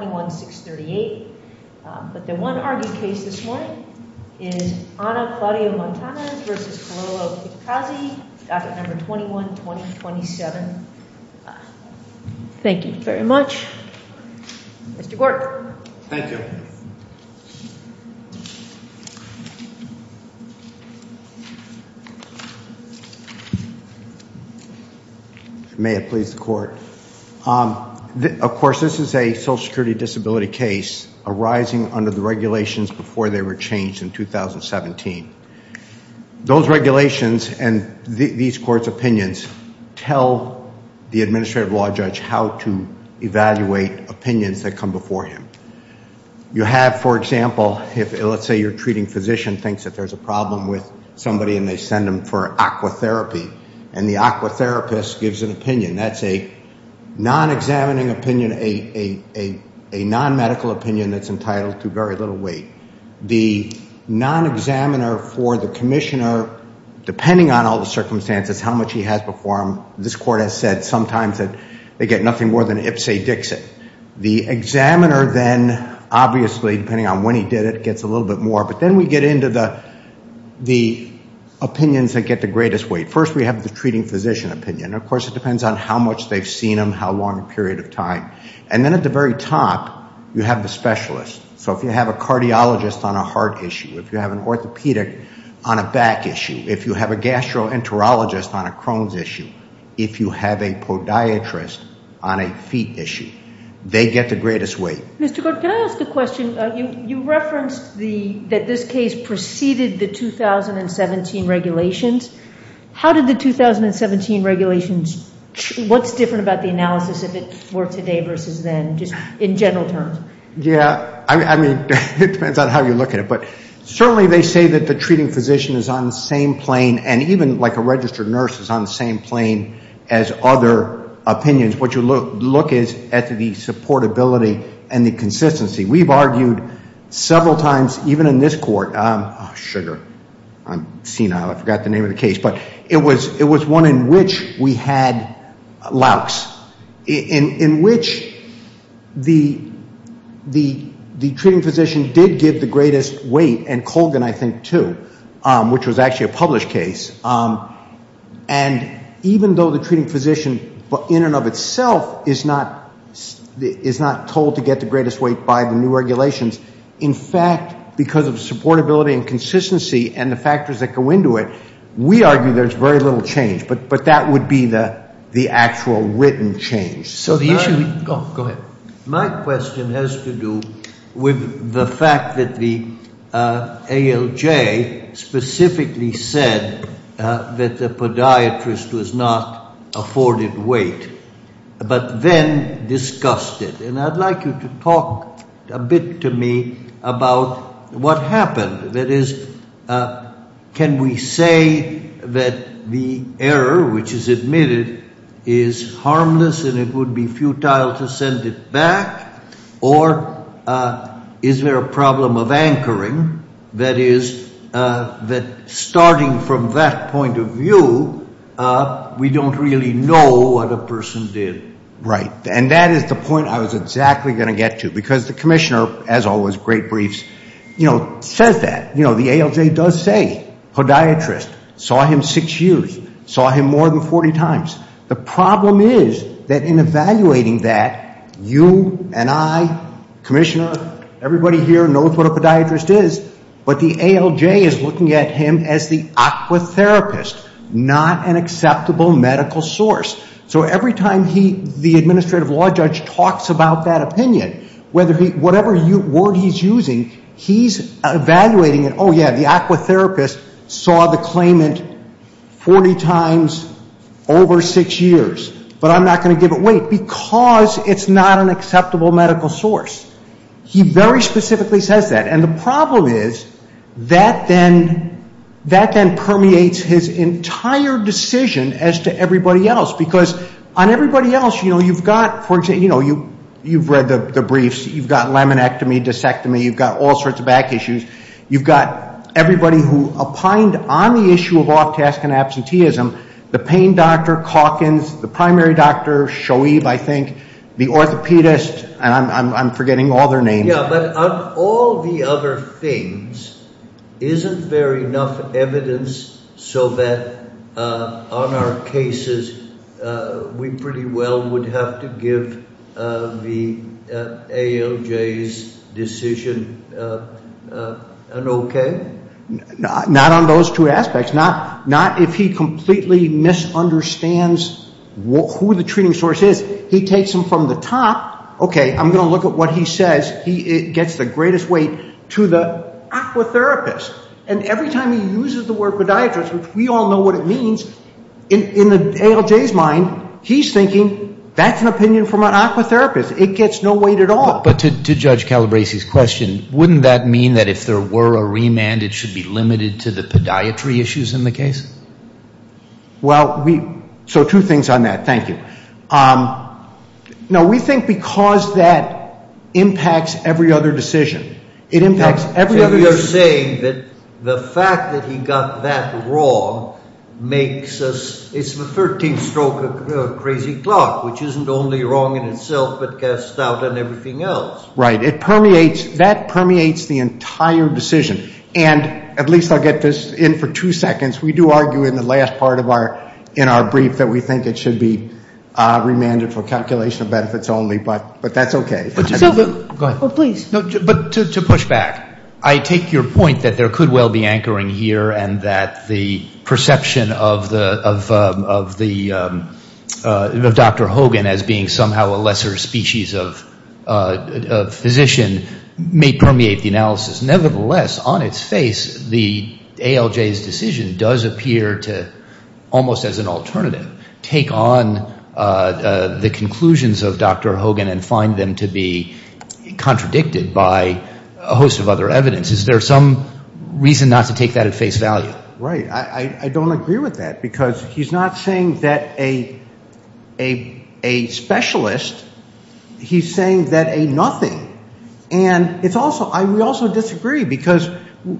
21-2027. Thank you very much. Mr. Gort. Thank you. May it please the court. Of course, this is a social security disability case arising under the regulations before they were changed in 2017. Those regulations and these court's opinions tell the administrative law judge how to evaluate opinions that come before him. You have, for example, if let's say you're treating physician thinks that there's a problem with somebody and they send him for aqua therapy and the aqua therapist gives an opinion. That's a non-examining opinion, a non-medical opinion that's entitled to very little weight. The non-examiner for the commissioner, depending on all the circumstances, how much he has before him, this court has said sometimes that they get nothing more than ipsy dixit. The examiner then, obviously, depending on when he did it, gets a little bit more. But then we get into the opinions that get the greatest weight. You have the treating physician opinion. Of course, it depends on how much they've seen him, how long a period of time. And then at the very top, you have the specialist. So if you have a cardiologist on a heart issue, if you have an orthopedic on a back issue, if you have a gastroenterologist on a Crohn's issue, if you have a podiatrist on a feet issue, they get the greatest weight. Mr. Gort, can I ask a question? You referenced that this case preceded the 2017 regulations. How did the 2017 regulations, what's different about the analysis if it were today versus then, just in general terms? Yeah, I mean, it depends on how you look at it. But certainly they say that the treating physician is on the same plane, and even like a registered nurse is on the same plane as other opinions. What you look is at the supportability and the consistency. We've argued several times, even in this court, sugar, I'm senile, I forgot the name of the case, but it was one in which we had lax, in which the treating physician did give the greatest weight, and Colgan, I think, too, which was actually a published case. And even though the treating physician, in and of itself, is not told to get the greatest weight by the new regulations, in fact, because of supportability and consistency and the factors that go into it, we argue there's very little change. But that would be the actual written change. So the issue, go ahead. My question has to do with the fact that the ALJ specifically said that the podiatrist was not afforded weight, but then discussed it. And I'd like you to talk a bit to me about what happened. That is, can we say that the error which is admitted is harmless and it would be futile to send it back? Or is there a problem of anchoring? That is, that we don't really know what a person did. Right. And that is the point I was exactly going to get to. Because the commissioner, as always, great briefs, says that. The ALJ does say, podiatrist, saw him six years, saw him more than 40 times. The problem is that in evaluating that, you and I, commissioner, everybody here knows what a podiatrist is, but the ALJ is looking at him as the aquatherapist, not an acceptable medical source. So every time the administrative law judge talks about that opinion, whatever word he's using, he's evaluating it, oh, yeah, the aquatherapist saw the claimant 40 times over six years, but I'm not going to give it weight, because it's not an acceptable medical source. He very specifically says that. And the problem is, that then permeates his entire decision as to everybody else. Because on everybody else, you've got, for example, you've read the briefs, you've got laminectomy, discectomy, you've got all sorts of back issues, you've got everybody who opined on the issue of off-task and absenteeism, the pain doctor, Calkins, the primary doctor, Shoaib, I think, the orthopedist, and I'm forgetting all their names. Yeah, but on all the other things, isn't there enough evidence so that on our cases, we pretty well would have to give the ALJ's decision an okay? Not on those two aspects. Not if he completely misunderstands who the treating source is. He takes them from the top, okay, I'm going to look at what he says, he gets the greatest weight to the aquatherapist. And every time he uses the word podiatrist, which we all know what it means, in the ALJ's mind, he's thinking, that's an opinion from an aquatherapist. It gets no weight at all. But to Judge Calabresi's question, wouldn't that mean that if there were a remand, it should be limited to the podiatry issues in the case? Well, so two things on that, thank you. Now, we think because that impacts every other decision. You're saying that the fact that he got that wrong makes us, it's the 13th stroke of crazy clock, which isn't only wrong in itself, but casts doubt on everything else. Right. It permeates, that permeates the entire decision. And at least I'll get this in for two seconds, we do argue in the last part of our, in our brief, that we think it should be remanded for calculation of benefits only, but that's okay. But to push back, I take your point that there could well be anchoring here and that the of Dr. Hogan as being somehow a lesser species of physician may permeate the analysis. Nevertheless, on its face, the ALJ's decision does appear to, almost as an alternative, take on the conclusions of Dr. Hogan and find them to be contradicted by a host of other evidence. Is there some reason not to take that at face value? Right. I don't agree with that because he's not saying that a specialist, he's saying that a nothing. And it's also, we also disagree because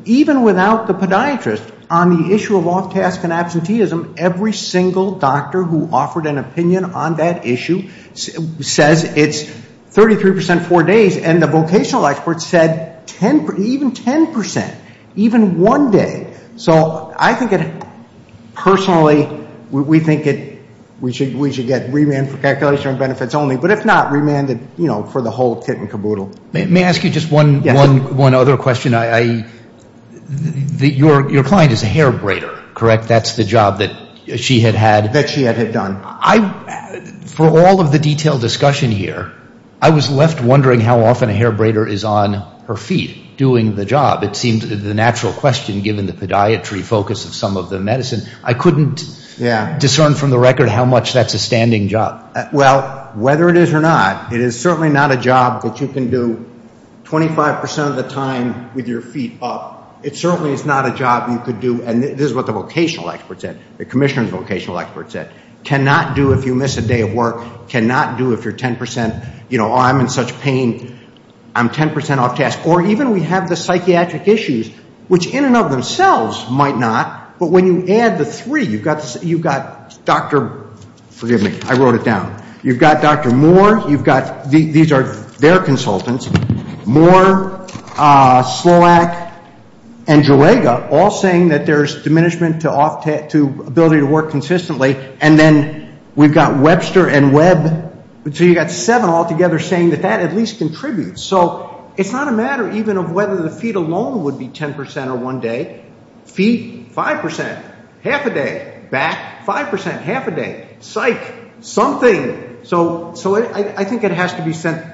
even without the podiatrist, on the issue of off-task and absenteeism, every single doctor who offered an opinion on that issue says it's 33% four days and the vocational experts said even 10%, even one day. So I think it, personally, we think we should get remanded for calculation of benefits only. But if not, remanded for the whole kit and caboodle. May I ask you just one other question? Your client is a hair braider, correct? That's the job that she had had? That she had done. For all of the detailed discussion here, I was left wondering how often a hair braider is on her feet doing the job. It seems the natural question given the podiatry focus of some of the medicine. I couldn't discern from the record how much that's a standing job. Well, whether it is or not, it is certainly not a job that you can do 25% of the time with your feet up. It certainly is not a job you could do, and this is what the vocational experts said, the commissioner's vocational experts said, cannot do if you miss a day of work, cannot do if you're 10%, you know, I'm in such pain, I'm 10% off task. Or even we have the psychiatric issues, which in and of themselves might not, but when you add the three, you've got Dr., forgive me, I wrote it down, you've got Dr. Moore, you've got, these are their consultants, Moore, Sloack, and Jurega, all saying that there's diminishment to ability to work consistently, and then we've got Webster and Webb, so you've got seven all together saying that that at least contributes. So it's not a matter even of whether the feet alone would be 10% or one day. Feet, 5%, half a day. Back, 5%, half a day. Psych, something. So I think it has to be sent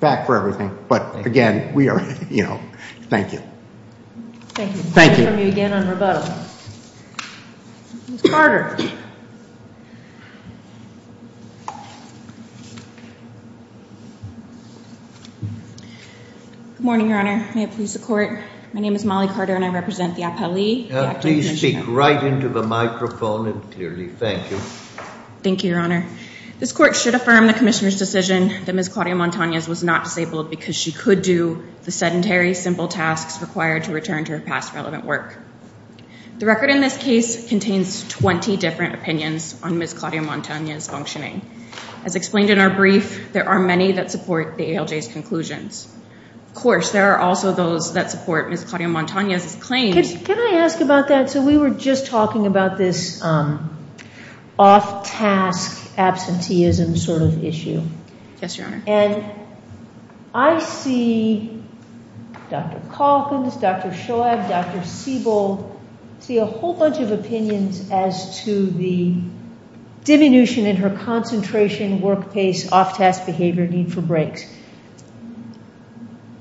back for everything. But again, we are, you know, thank you. Thank you. Thank you. We'll hear from you again on rebuttal. Ms. Carter. Good morning, Your Honor. May it please the Court. My name is Molly Carter and I represent the appellee. Please speak right into the microphone and clearly. Thank you. Thank you, Your Honor. This Court should affirm the Commissioner's decision that Ms. Claudia required to return to her past relevant work. The record in this case contains 20 different opinions on Ms. Claudia Montano's functioning. As explained in our brief, there are many that support the ALJ's conclusions. Of course, there are also those that support Ms. Claudia Montano's claims. Can I ask about that? So we were just talking about this off-task absenteeism sort of issue. Yes, Your Honor. And I see Dr. Calkins, Dr. Shoab, Dr. Siebel, see a whole bunch of opinions as to the diminution in her concentration, work pace, off-task behavior, need for breaks.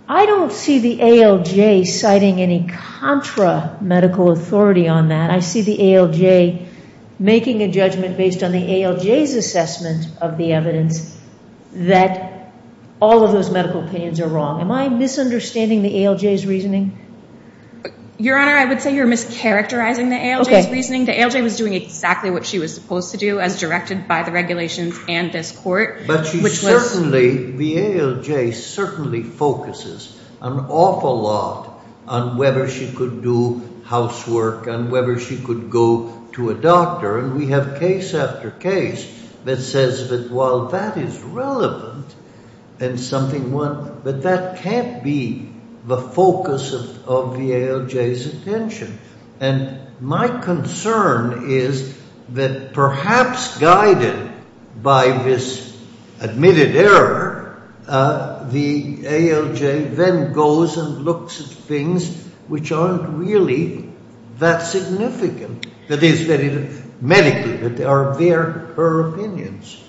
I don't see the ALJ citing any contra-medical authority on that. I see the ALJ making a judgment based on the ALJ's assessment of the evidence that all of those medical opinions are wrong. Am I misunderstanding the ALJ's reasoning? Your Honor, I would say you're mischaracterizing the ALJ's reasoning. The ALJ was doing exactly what she was supposed to do as directed by the regulations and this Court, which was But she certainly, the ALJ certainly focuses an awful lot on whether she could do housework and whether she could go to a doctor. And we have case after case that says that while that is relevant and something that can't be the focus of the ALJ's attention. And my concern is that perhaps guided by this admitted error, the ALJ then goes and looks at things which aren't really that significant. That is, medically, that they are her opinions.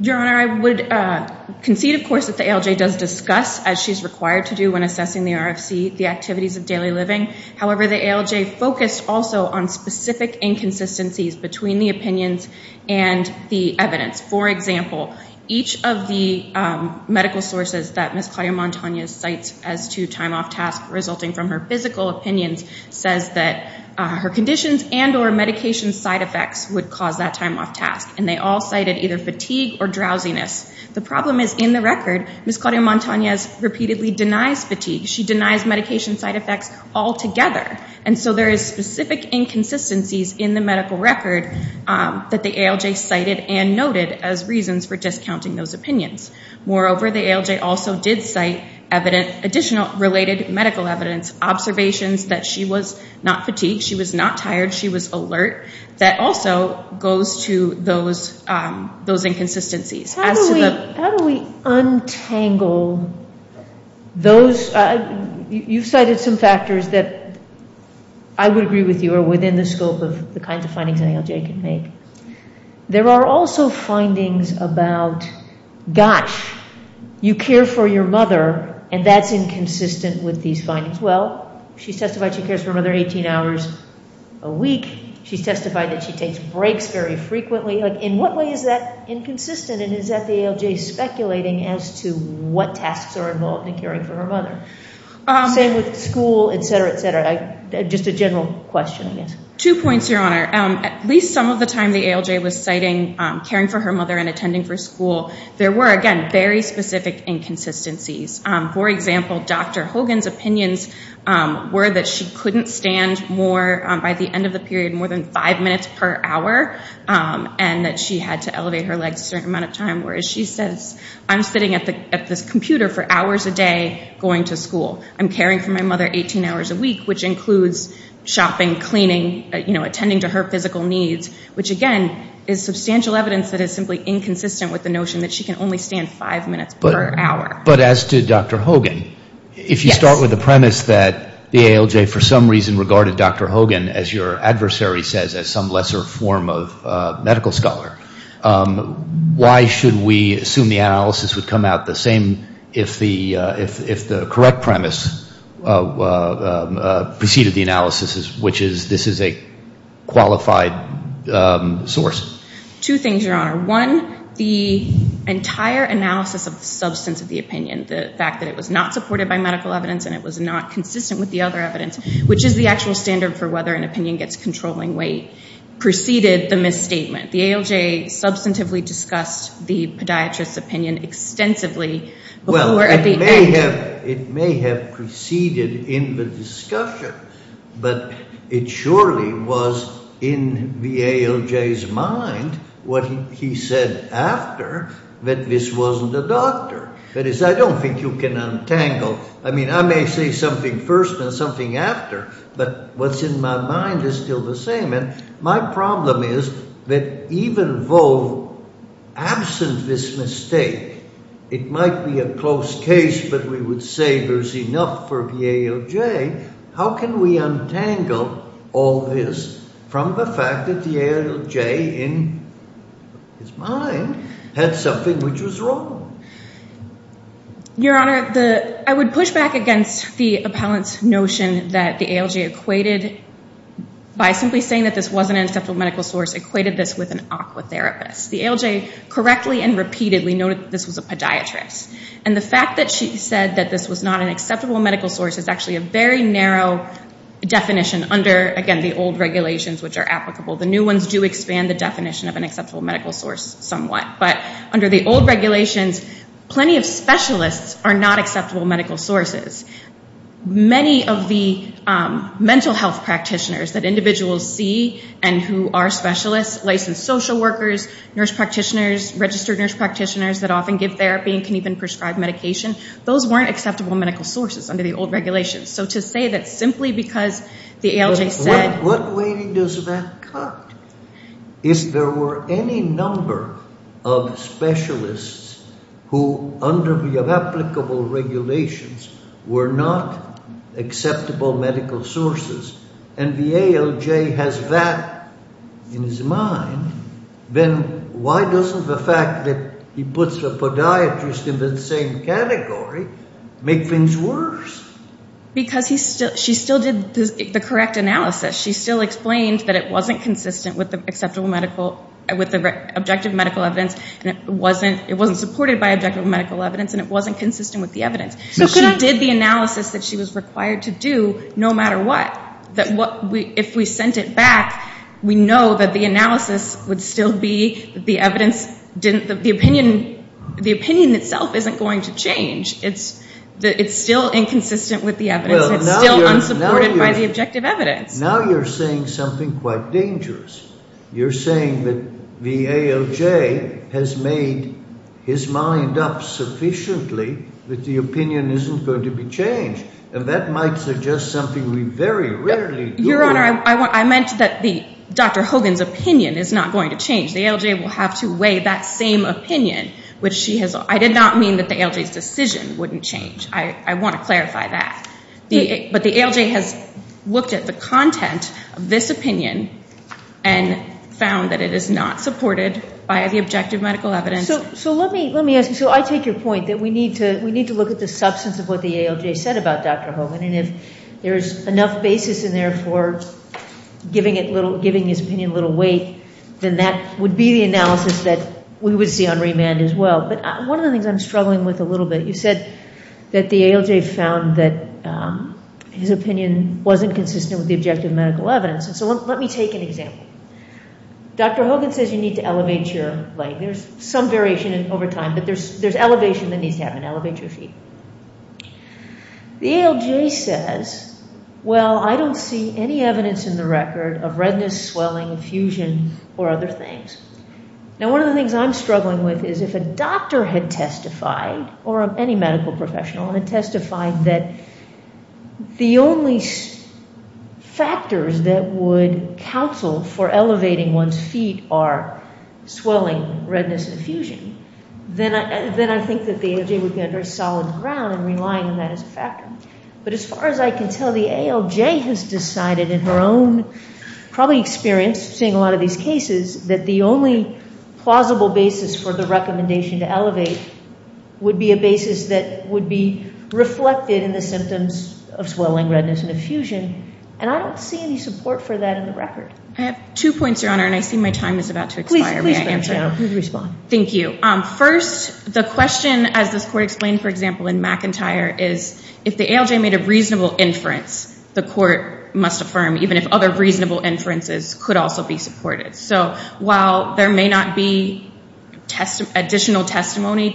Your Honor, I would concede, of course, that the ALJ does discuss, as she's required to do when assessing the RFC, the activities of daily living. However, the ALJ focused also on specific inconsistencies between the opinions and the evidence. For example, each of the medical sources that Ms. Claudia Montanez cites as to time off task resulting from her physical opinions says that her conditions and or medication side effects would cause that time off task. And they all cited either fatigue or drowsiness. The problem is in the record, Ms. Claudia Montanez repeatedly denies fatigue. She denies medication side effects altogether. And so there is specific inconsistencies in the medical record that the ALJ cited and noted as reasons for discounting those opinions. Moreover, the ALJ also did cite additional related medical evidence, observations that she was not fatigued, she was not tired, she was alert, that also goes to those inconsistencies. How do we untangle those? You've cited some factors that I would agree with you are within the scope of the kinds of findings an ALJ can make. There are also findings about, gosh, you care for your mother and that's inconsistent with these findings. Well, she testified she cares for her mother 18 hours a week. She testified that she takes breaks very frequently. In what way is that inconsistent and is that the ALJ speculating as to what tasks are involved in caring for her mother? Same with school, et cetera, et cetera. Just a general question, I guess. Two points, Your Honor. At least some of the time the ALJ was citing caring for her mother and attending for school, there were, again, very specific inconsistencies. For example, Dr. Hogan's opinions were that she couldn't stand more by the end of the period, more than five minutes per hour, and that she had to elevate her legs a certain amount of time, whereas she says, I'm sitting at this computer for hours a day going to school. I'm caring for my mother 18 hours a week, which includes shopping, cleaning, attending to her physical needs, which, again, is substantial evidence that is simply inconsistent with the notion that she can only stand five minutes per hour. But as to Dr. Hogan, if you start with the premise that the ALJ for some reason regarded Dr. Hogan, as some lesser form of medical scholar, why should we assume the analysis would come out the same if the correct premise preceded the analysis, which is this is a qualified source? Two things, Your Honor. One, the entire analysis of the substance of the opinion, the fact that it was not supported by medical evidence and it was not consistent with the other evidence, which is the actual standard for whether an opinion gets controlling weight, preceded the misstatement. The ALJ substantively discussed the podiatrist's opinion extensively before at the end. It may have preceded in the discussion, but it surely was in the ALJ's mind what he said after that this wasn't a doctor. That is, I don't think you can untangle, I mean, I may say something first and something after, but what's in my mind is still the same. And my problem is that even though absent this mistake, it might be a close case, but we would say there's enough for the ALJ. How can we untangle all this from the fact that the ALJ in his mind had something which was wrong? Your Honor, I would push back against the appellant's notion that the ALJ equated, by simply saying that this wasn't an acceptable medical source, equated this with an aqua therapist. The ALJ correctly and repeatedly noted that this was a podiatrist. And the fact that she said that this was not an acceptable medical source is actually a very narrow definition under, again, the old regulations which are applicable. The new ones do expand the definition of an aqua therapist. Under the old regulations, plenty of specialists are not acceptable medical sources. Many of the mental health practitioners that individuals see and who are specialists, licensed social workers, nurse practitioners, registered nurse practitioners that often give therapy and can even prescribe medication, those weren't acceptable medical sources under the old regulations. So to say that simply because the ALJ said... If there were specialists who under the applicable regulations were not acceptable medical sources and the ALJ has that in his mind, then why doesn't the fact that he puts the podiatrist in the same category make things worse? Because she still did the correct analysis. She still explained that it wasn't consistent with the objective medical evidence and it wasn't supported by objective medical evidence and it wasn't consistent with the evidence. She did the analysis that she was required to do no matter what. If we sent it back, we know that the analysis would still be the evidence didn't... The opinion itself isn't going to change. It's still inconsistent with the evidence. It's still unsupported by the objective evidence. The ALJ has made his mind up sufficiently that the opinion isn't going to be changed. And that might suggest something we very rarely do. Your Honor, I meant that Dr. Hogan's opinion is not going to change. The ALJ will have to weigh that same opinion which she has... I did not mean that the ALJ's decision wouldn't change. I want to clarify that. But the ALJ has looked at the content of this opinion and found that it is not supported by the objective medical evidence. So let me ask you. So I take your point that we need to look at the substance of what the ALJ said about Dr. Hogan. And if there's enough basis in there for giving his opinion a little weight, then that would be the analysis that we would see on remand as well. But one of the things I'm struggling with a little bit... You said that the ALJ found that his opinion wasn't consistent with the objective medical evidence. So let me take an example. Dr. Hogan says you need to elevate your leg. There's some variation over time, but there's elevation that needs to happen. Elevate your feet. The ALJ says, well, I don't see any evidence in the record of redness, swelling, infusion, or other things. Now, one of the things I'm struggling with is if a doctor had testified, or any medical professional had testified, that the only factors that would counsel for elevating one's feet are swelling, redness, and infusion, then I think that the ALJ would be under solid ground and relying on that as a factor. But as far as I can tell, the ALJ has decided in her own probably experience seeing a lot of these cases that the only plausible basis for the recommendation to elevate would be a basis that would be reflected in the symptoms of swelling, redness, and infusion. And I don't see any support for that in the record. I have two points, Your Honor, and I see my time is about to expire. May I answer? Please respond. Thank you. First, the question, as this Court explained, for example, in McIntyre, is if the ALJ made a reasonable inference, the Court must affirm even if other reasonable inferences could also be supported. So while there may not be additional testimony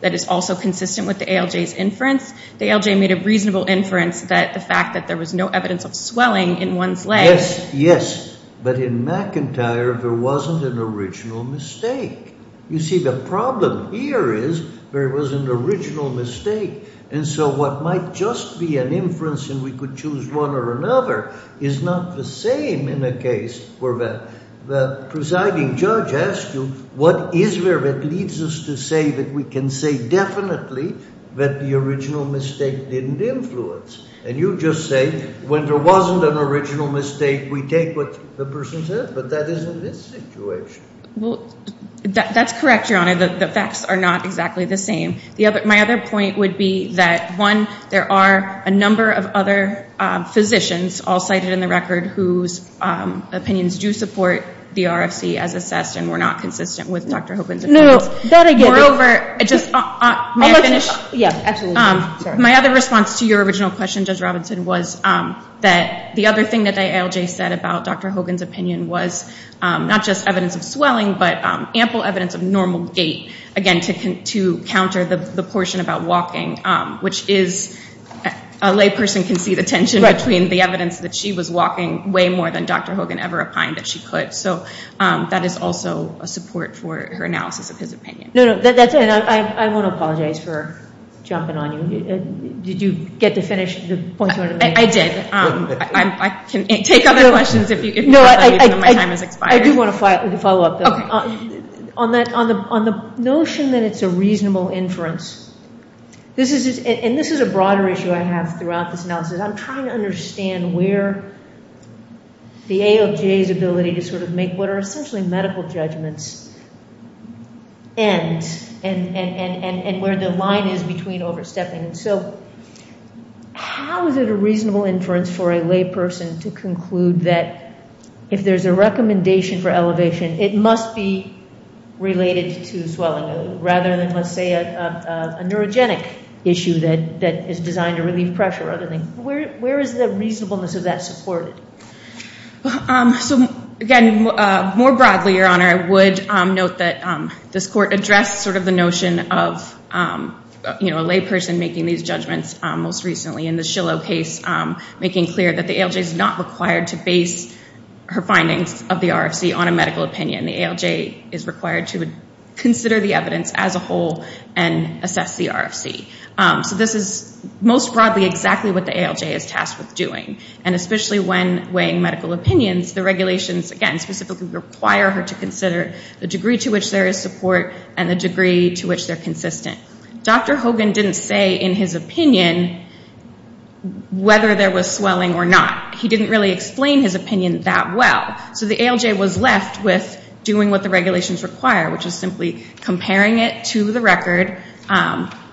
that is also consistent with the ALJ's inference, the ALJ made a reasonable inference that the fact that there was no evidence of swelling in one's legs... You see, the problem here is there was an original mistake. And so what might just be an inference and we could choose one or another is not the same in a case where the presiding judge asked you what is there that leads us to say that we can say definitely that the original mistake didn't influence. And you just say when there wasn't an original mistake, we take what the person said. But that is in this situation. Well, that's correct, Your Honor. The facts are not exactly the same. My other point would be that, one, there are a number of other physicians, all cited in the record, whose opinions do support the RFC as assessed and were not consistent with Dr. Hogan's... No, that I get. Moreover... May I finish? Yeah, absolutely. My other response to your original question, Judge Robinson, was that the other thing that the ALJ said about Dr. Hogan's opinion was not just evidence of swelling, but ample evidence of normal gait, again, to counter the portion about walking, which is... A lay person can see the tension between the evidence that she was walking way more than Dr. Hogan ever opined that she could. So that is also a support for her analysis of his opinion. No, no. I want to apologize for jumping on you. Did you get to finish the point you wanted to make? I did. I can take other questions if my time has expired. I do want to follow up, though. On the notion that it's a reasonable inference, and this is a broader issue I have throughout this analysis, I'm trying to understand where the ALJ's ability to sort of make what are essentially medical judgments ends and where the line is between overstepping. So how is it a reasonable inference for a lay person to conclude that if there's a recommendation for elevation, it must be related to swelling, rather than, let's say, a neurogenic issue that is designed to relieve pressure. Where is the reasonableness of that supported? So again, more broadly, Your Honor, I would note that this court addressed sort of the notion of a lay person making these judgments most recently in the Shillow case, making clear that the ALJ is not required to base her findings of the RFC on a medical opinion. The ALJ is required to consider the evidence as a whole and assess the RFC. So this is most broadly exactly what the ALJ is tasked with doing. And especially when weighing medical opinions, the regulations, again, specifically require her to consider the degree to which there is support and the degree to which they're consistent. Dr. Hogan didn't say in his opinion whether there was swelling or not. He didn't really explain his opinion that well. So the ALJ was left with doing what the regulations require, which is simply comparing it to the record,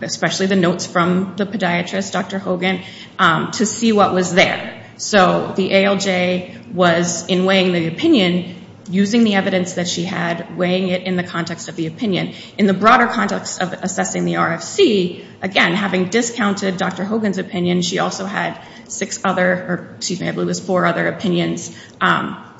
especially the notes from the podiatrist, Dr. Hogan, to see what was there. So the ALJ was, in weighing the opinion, using the evidence that she had, weighing it in the context of the opinion. In the broader context of assessing the RFC, again, having discounted Dr. Hogan's opinion, she also had four other opinions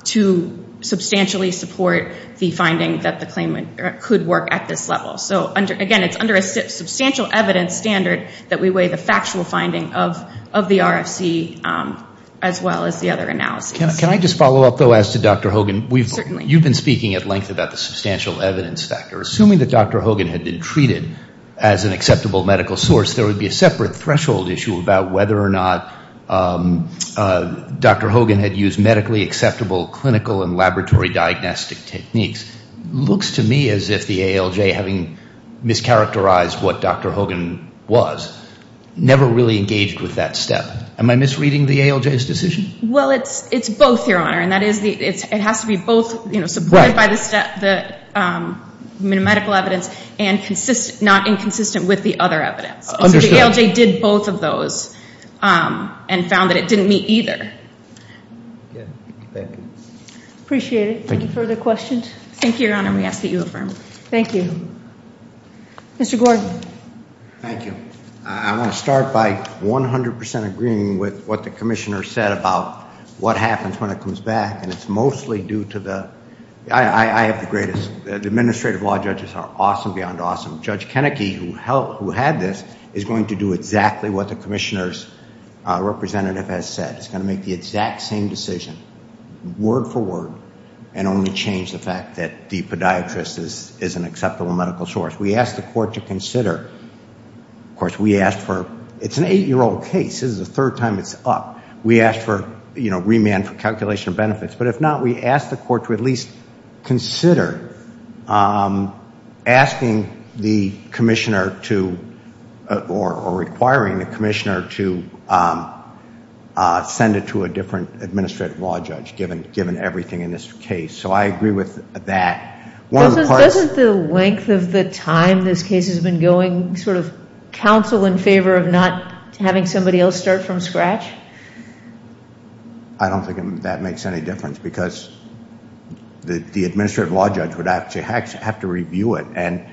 to substantially support the finding that the claim could work at this level. So again, it's under a substantial evidence standard that we weigh the factual finding of the RFC as well as the other analyses. Can I just follow up, though, as to Dr. Hogan? Certainly. You've been speaking at length about the substantial whether or not Dr. Hogan had used medically acceptable clinical and laboratory diagnostic techniques. Looks to me as if the ALJ, having mischaracterized what Dr. Hogan was, never really engaged with that step. Am I misreading the ALJ's decision? Well, it's both, Your Honor. It has to be both supported by the medical evidence and not inconsistent with the other evidence. So the ALJ did both of those and found that it didn't meet either. Appreciate it. Any further questions? Thank you, Your Honor. We ask that you affirm. Thank you. Mr. Gordon. Thank you. I want to start by 100 percent agreeing with what the Commissioner said about what happens when it comes back, and it's mostly due to the administrative law judges are awesome, beyond awesome. Judge Kennecke, who had this, is going to do exactly what the Commissioner's representative has said. It's going to make the exact same decision, word for word, and only change the fact that the podiatrist is an acceptable medical source. We ask the Court to remand for calculation of benefits, but if not, we ask the Court to at least consider asking the Commissioner to, or requiring the Commissioner to send it to a different administrative law judge, given everything in this case. So I agree with that. Doesn't the length of the time this case has been going sort of counsel in favor of not having somebody else start from scratch? I don't think that makes any difference, because the administrative law judge would actually have to review it, and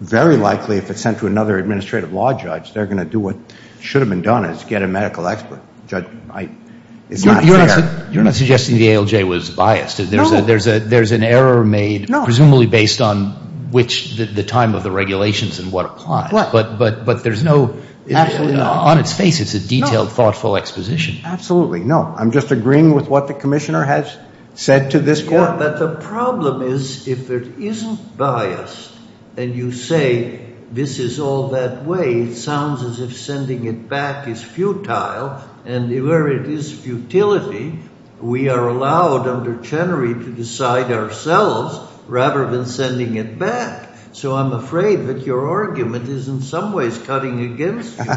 very likely if it's sent to another administrative law judge, they're going to do what should have been done, is get a medical expert. It's not fair. You're not suggesting the ALJ was biased. There's an error made, presumably based on which, the time of the regulations and what applies. But there's no, on its face it's a detailed, thoughtful exposition. Absolutely, no. I'm just agreeing with what the Commissioner has said to this Court. But the problem is, if it isn't biased, and you say this is all that way, it sounds as if sending it back is futile, and where it is futility, we are allowed under Chenery to decide ourselves, rather than sending it back. So I'm afraid that your argument is in some ways cutting against you.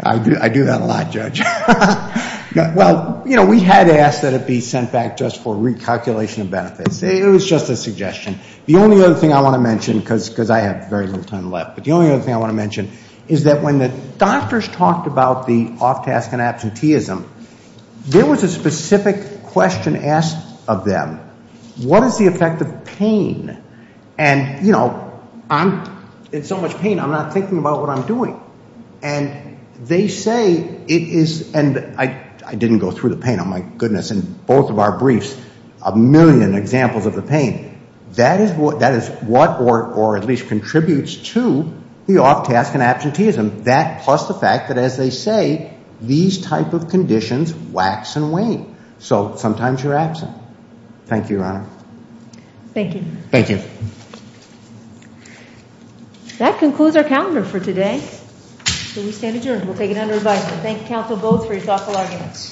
I do that a lot, Judge. Well, you know, we had asked that it be sent back just for recalculation of benefits. It was just a suggestion. The only other thing I want to mention, because I have very little time left, but the only other thing I want to mention is that when the doctors talked about the off-task and absenteeism, there was a specific question asked of them. What is the effect of pain? And, you know, I'm in so much pain, I'm not thinking about what I'm doing. And they say it is, and I didn't go through the pain, oh, my goodness, in both of our briefs, a million examples of the pain. That is what, or at least contributes to the off-task and absenteeism. That plus the fact that, as they say, these type of conditions wax and wane. So sometimes you're absent. Thank you, Your Honor. Thank you. Thank you. That concludes our calendar for today. So we stand adjourned. We'll take it under advisement. Thank you, counsel, both for your thoughtful arguments.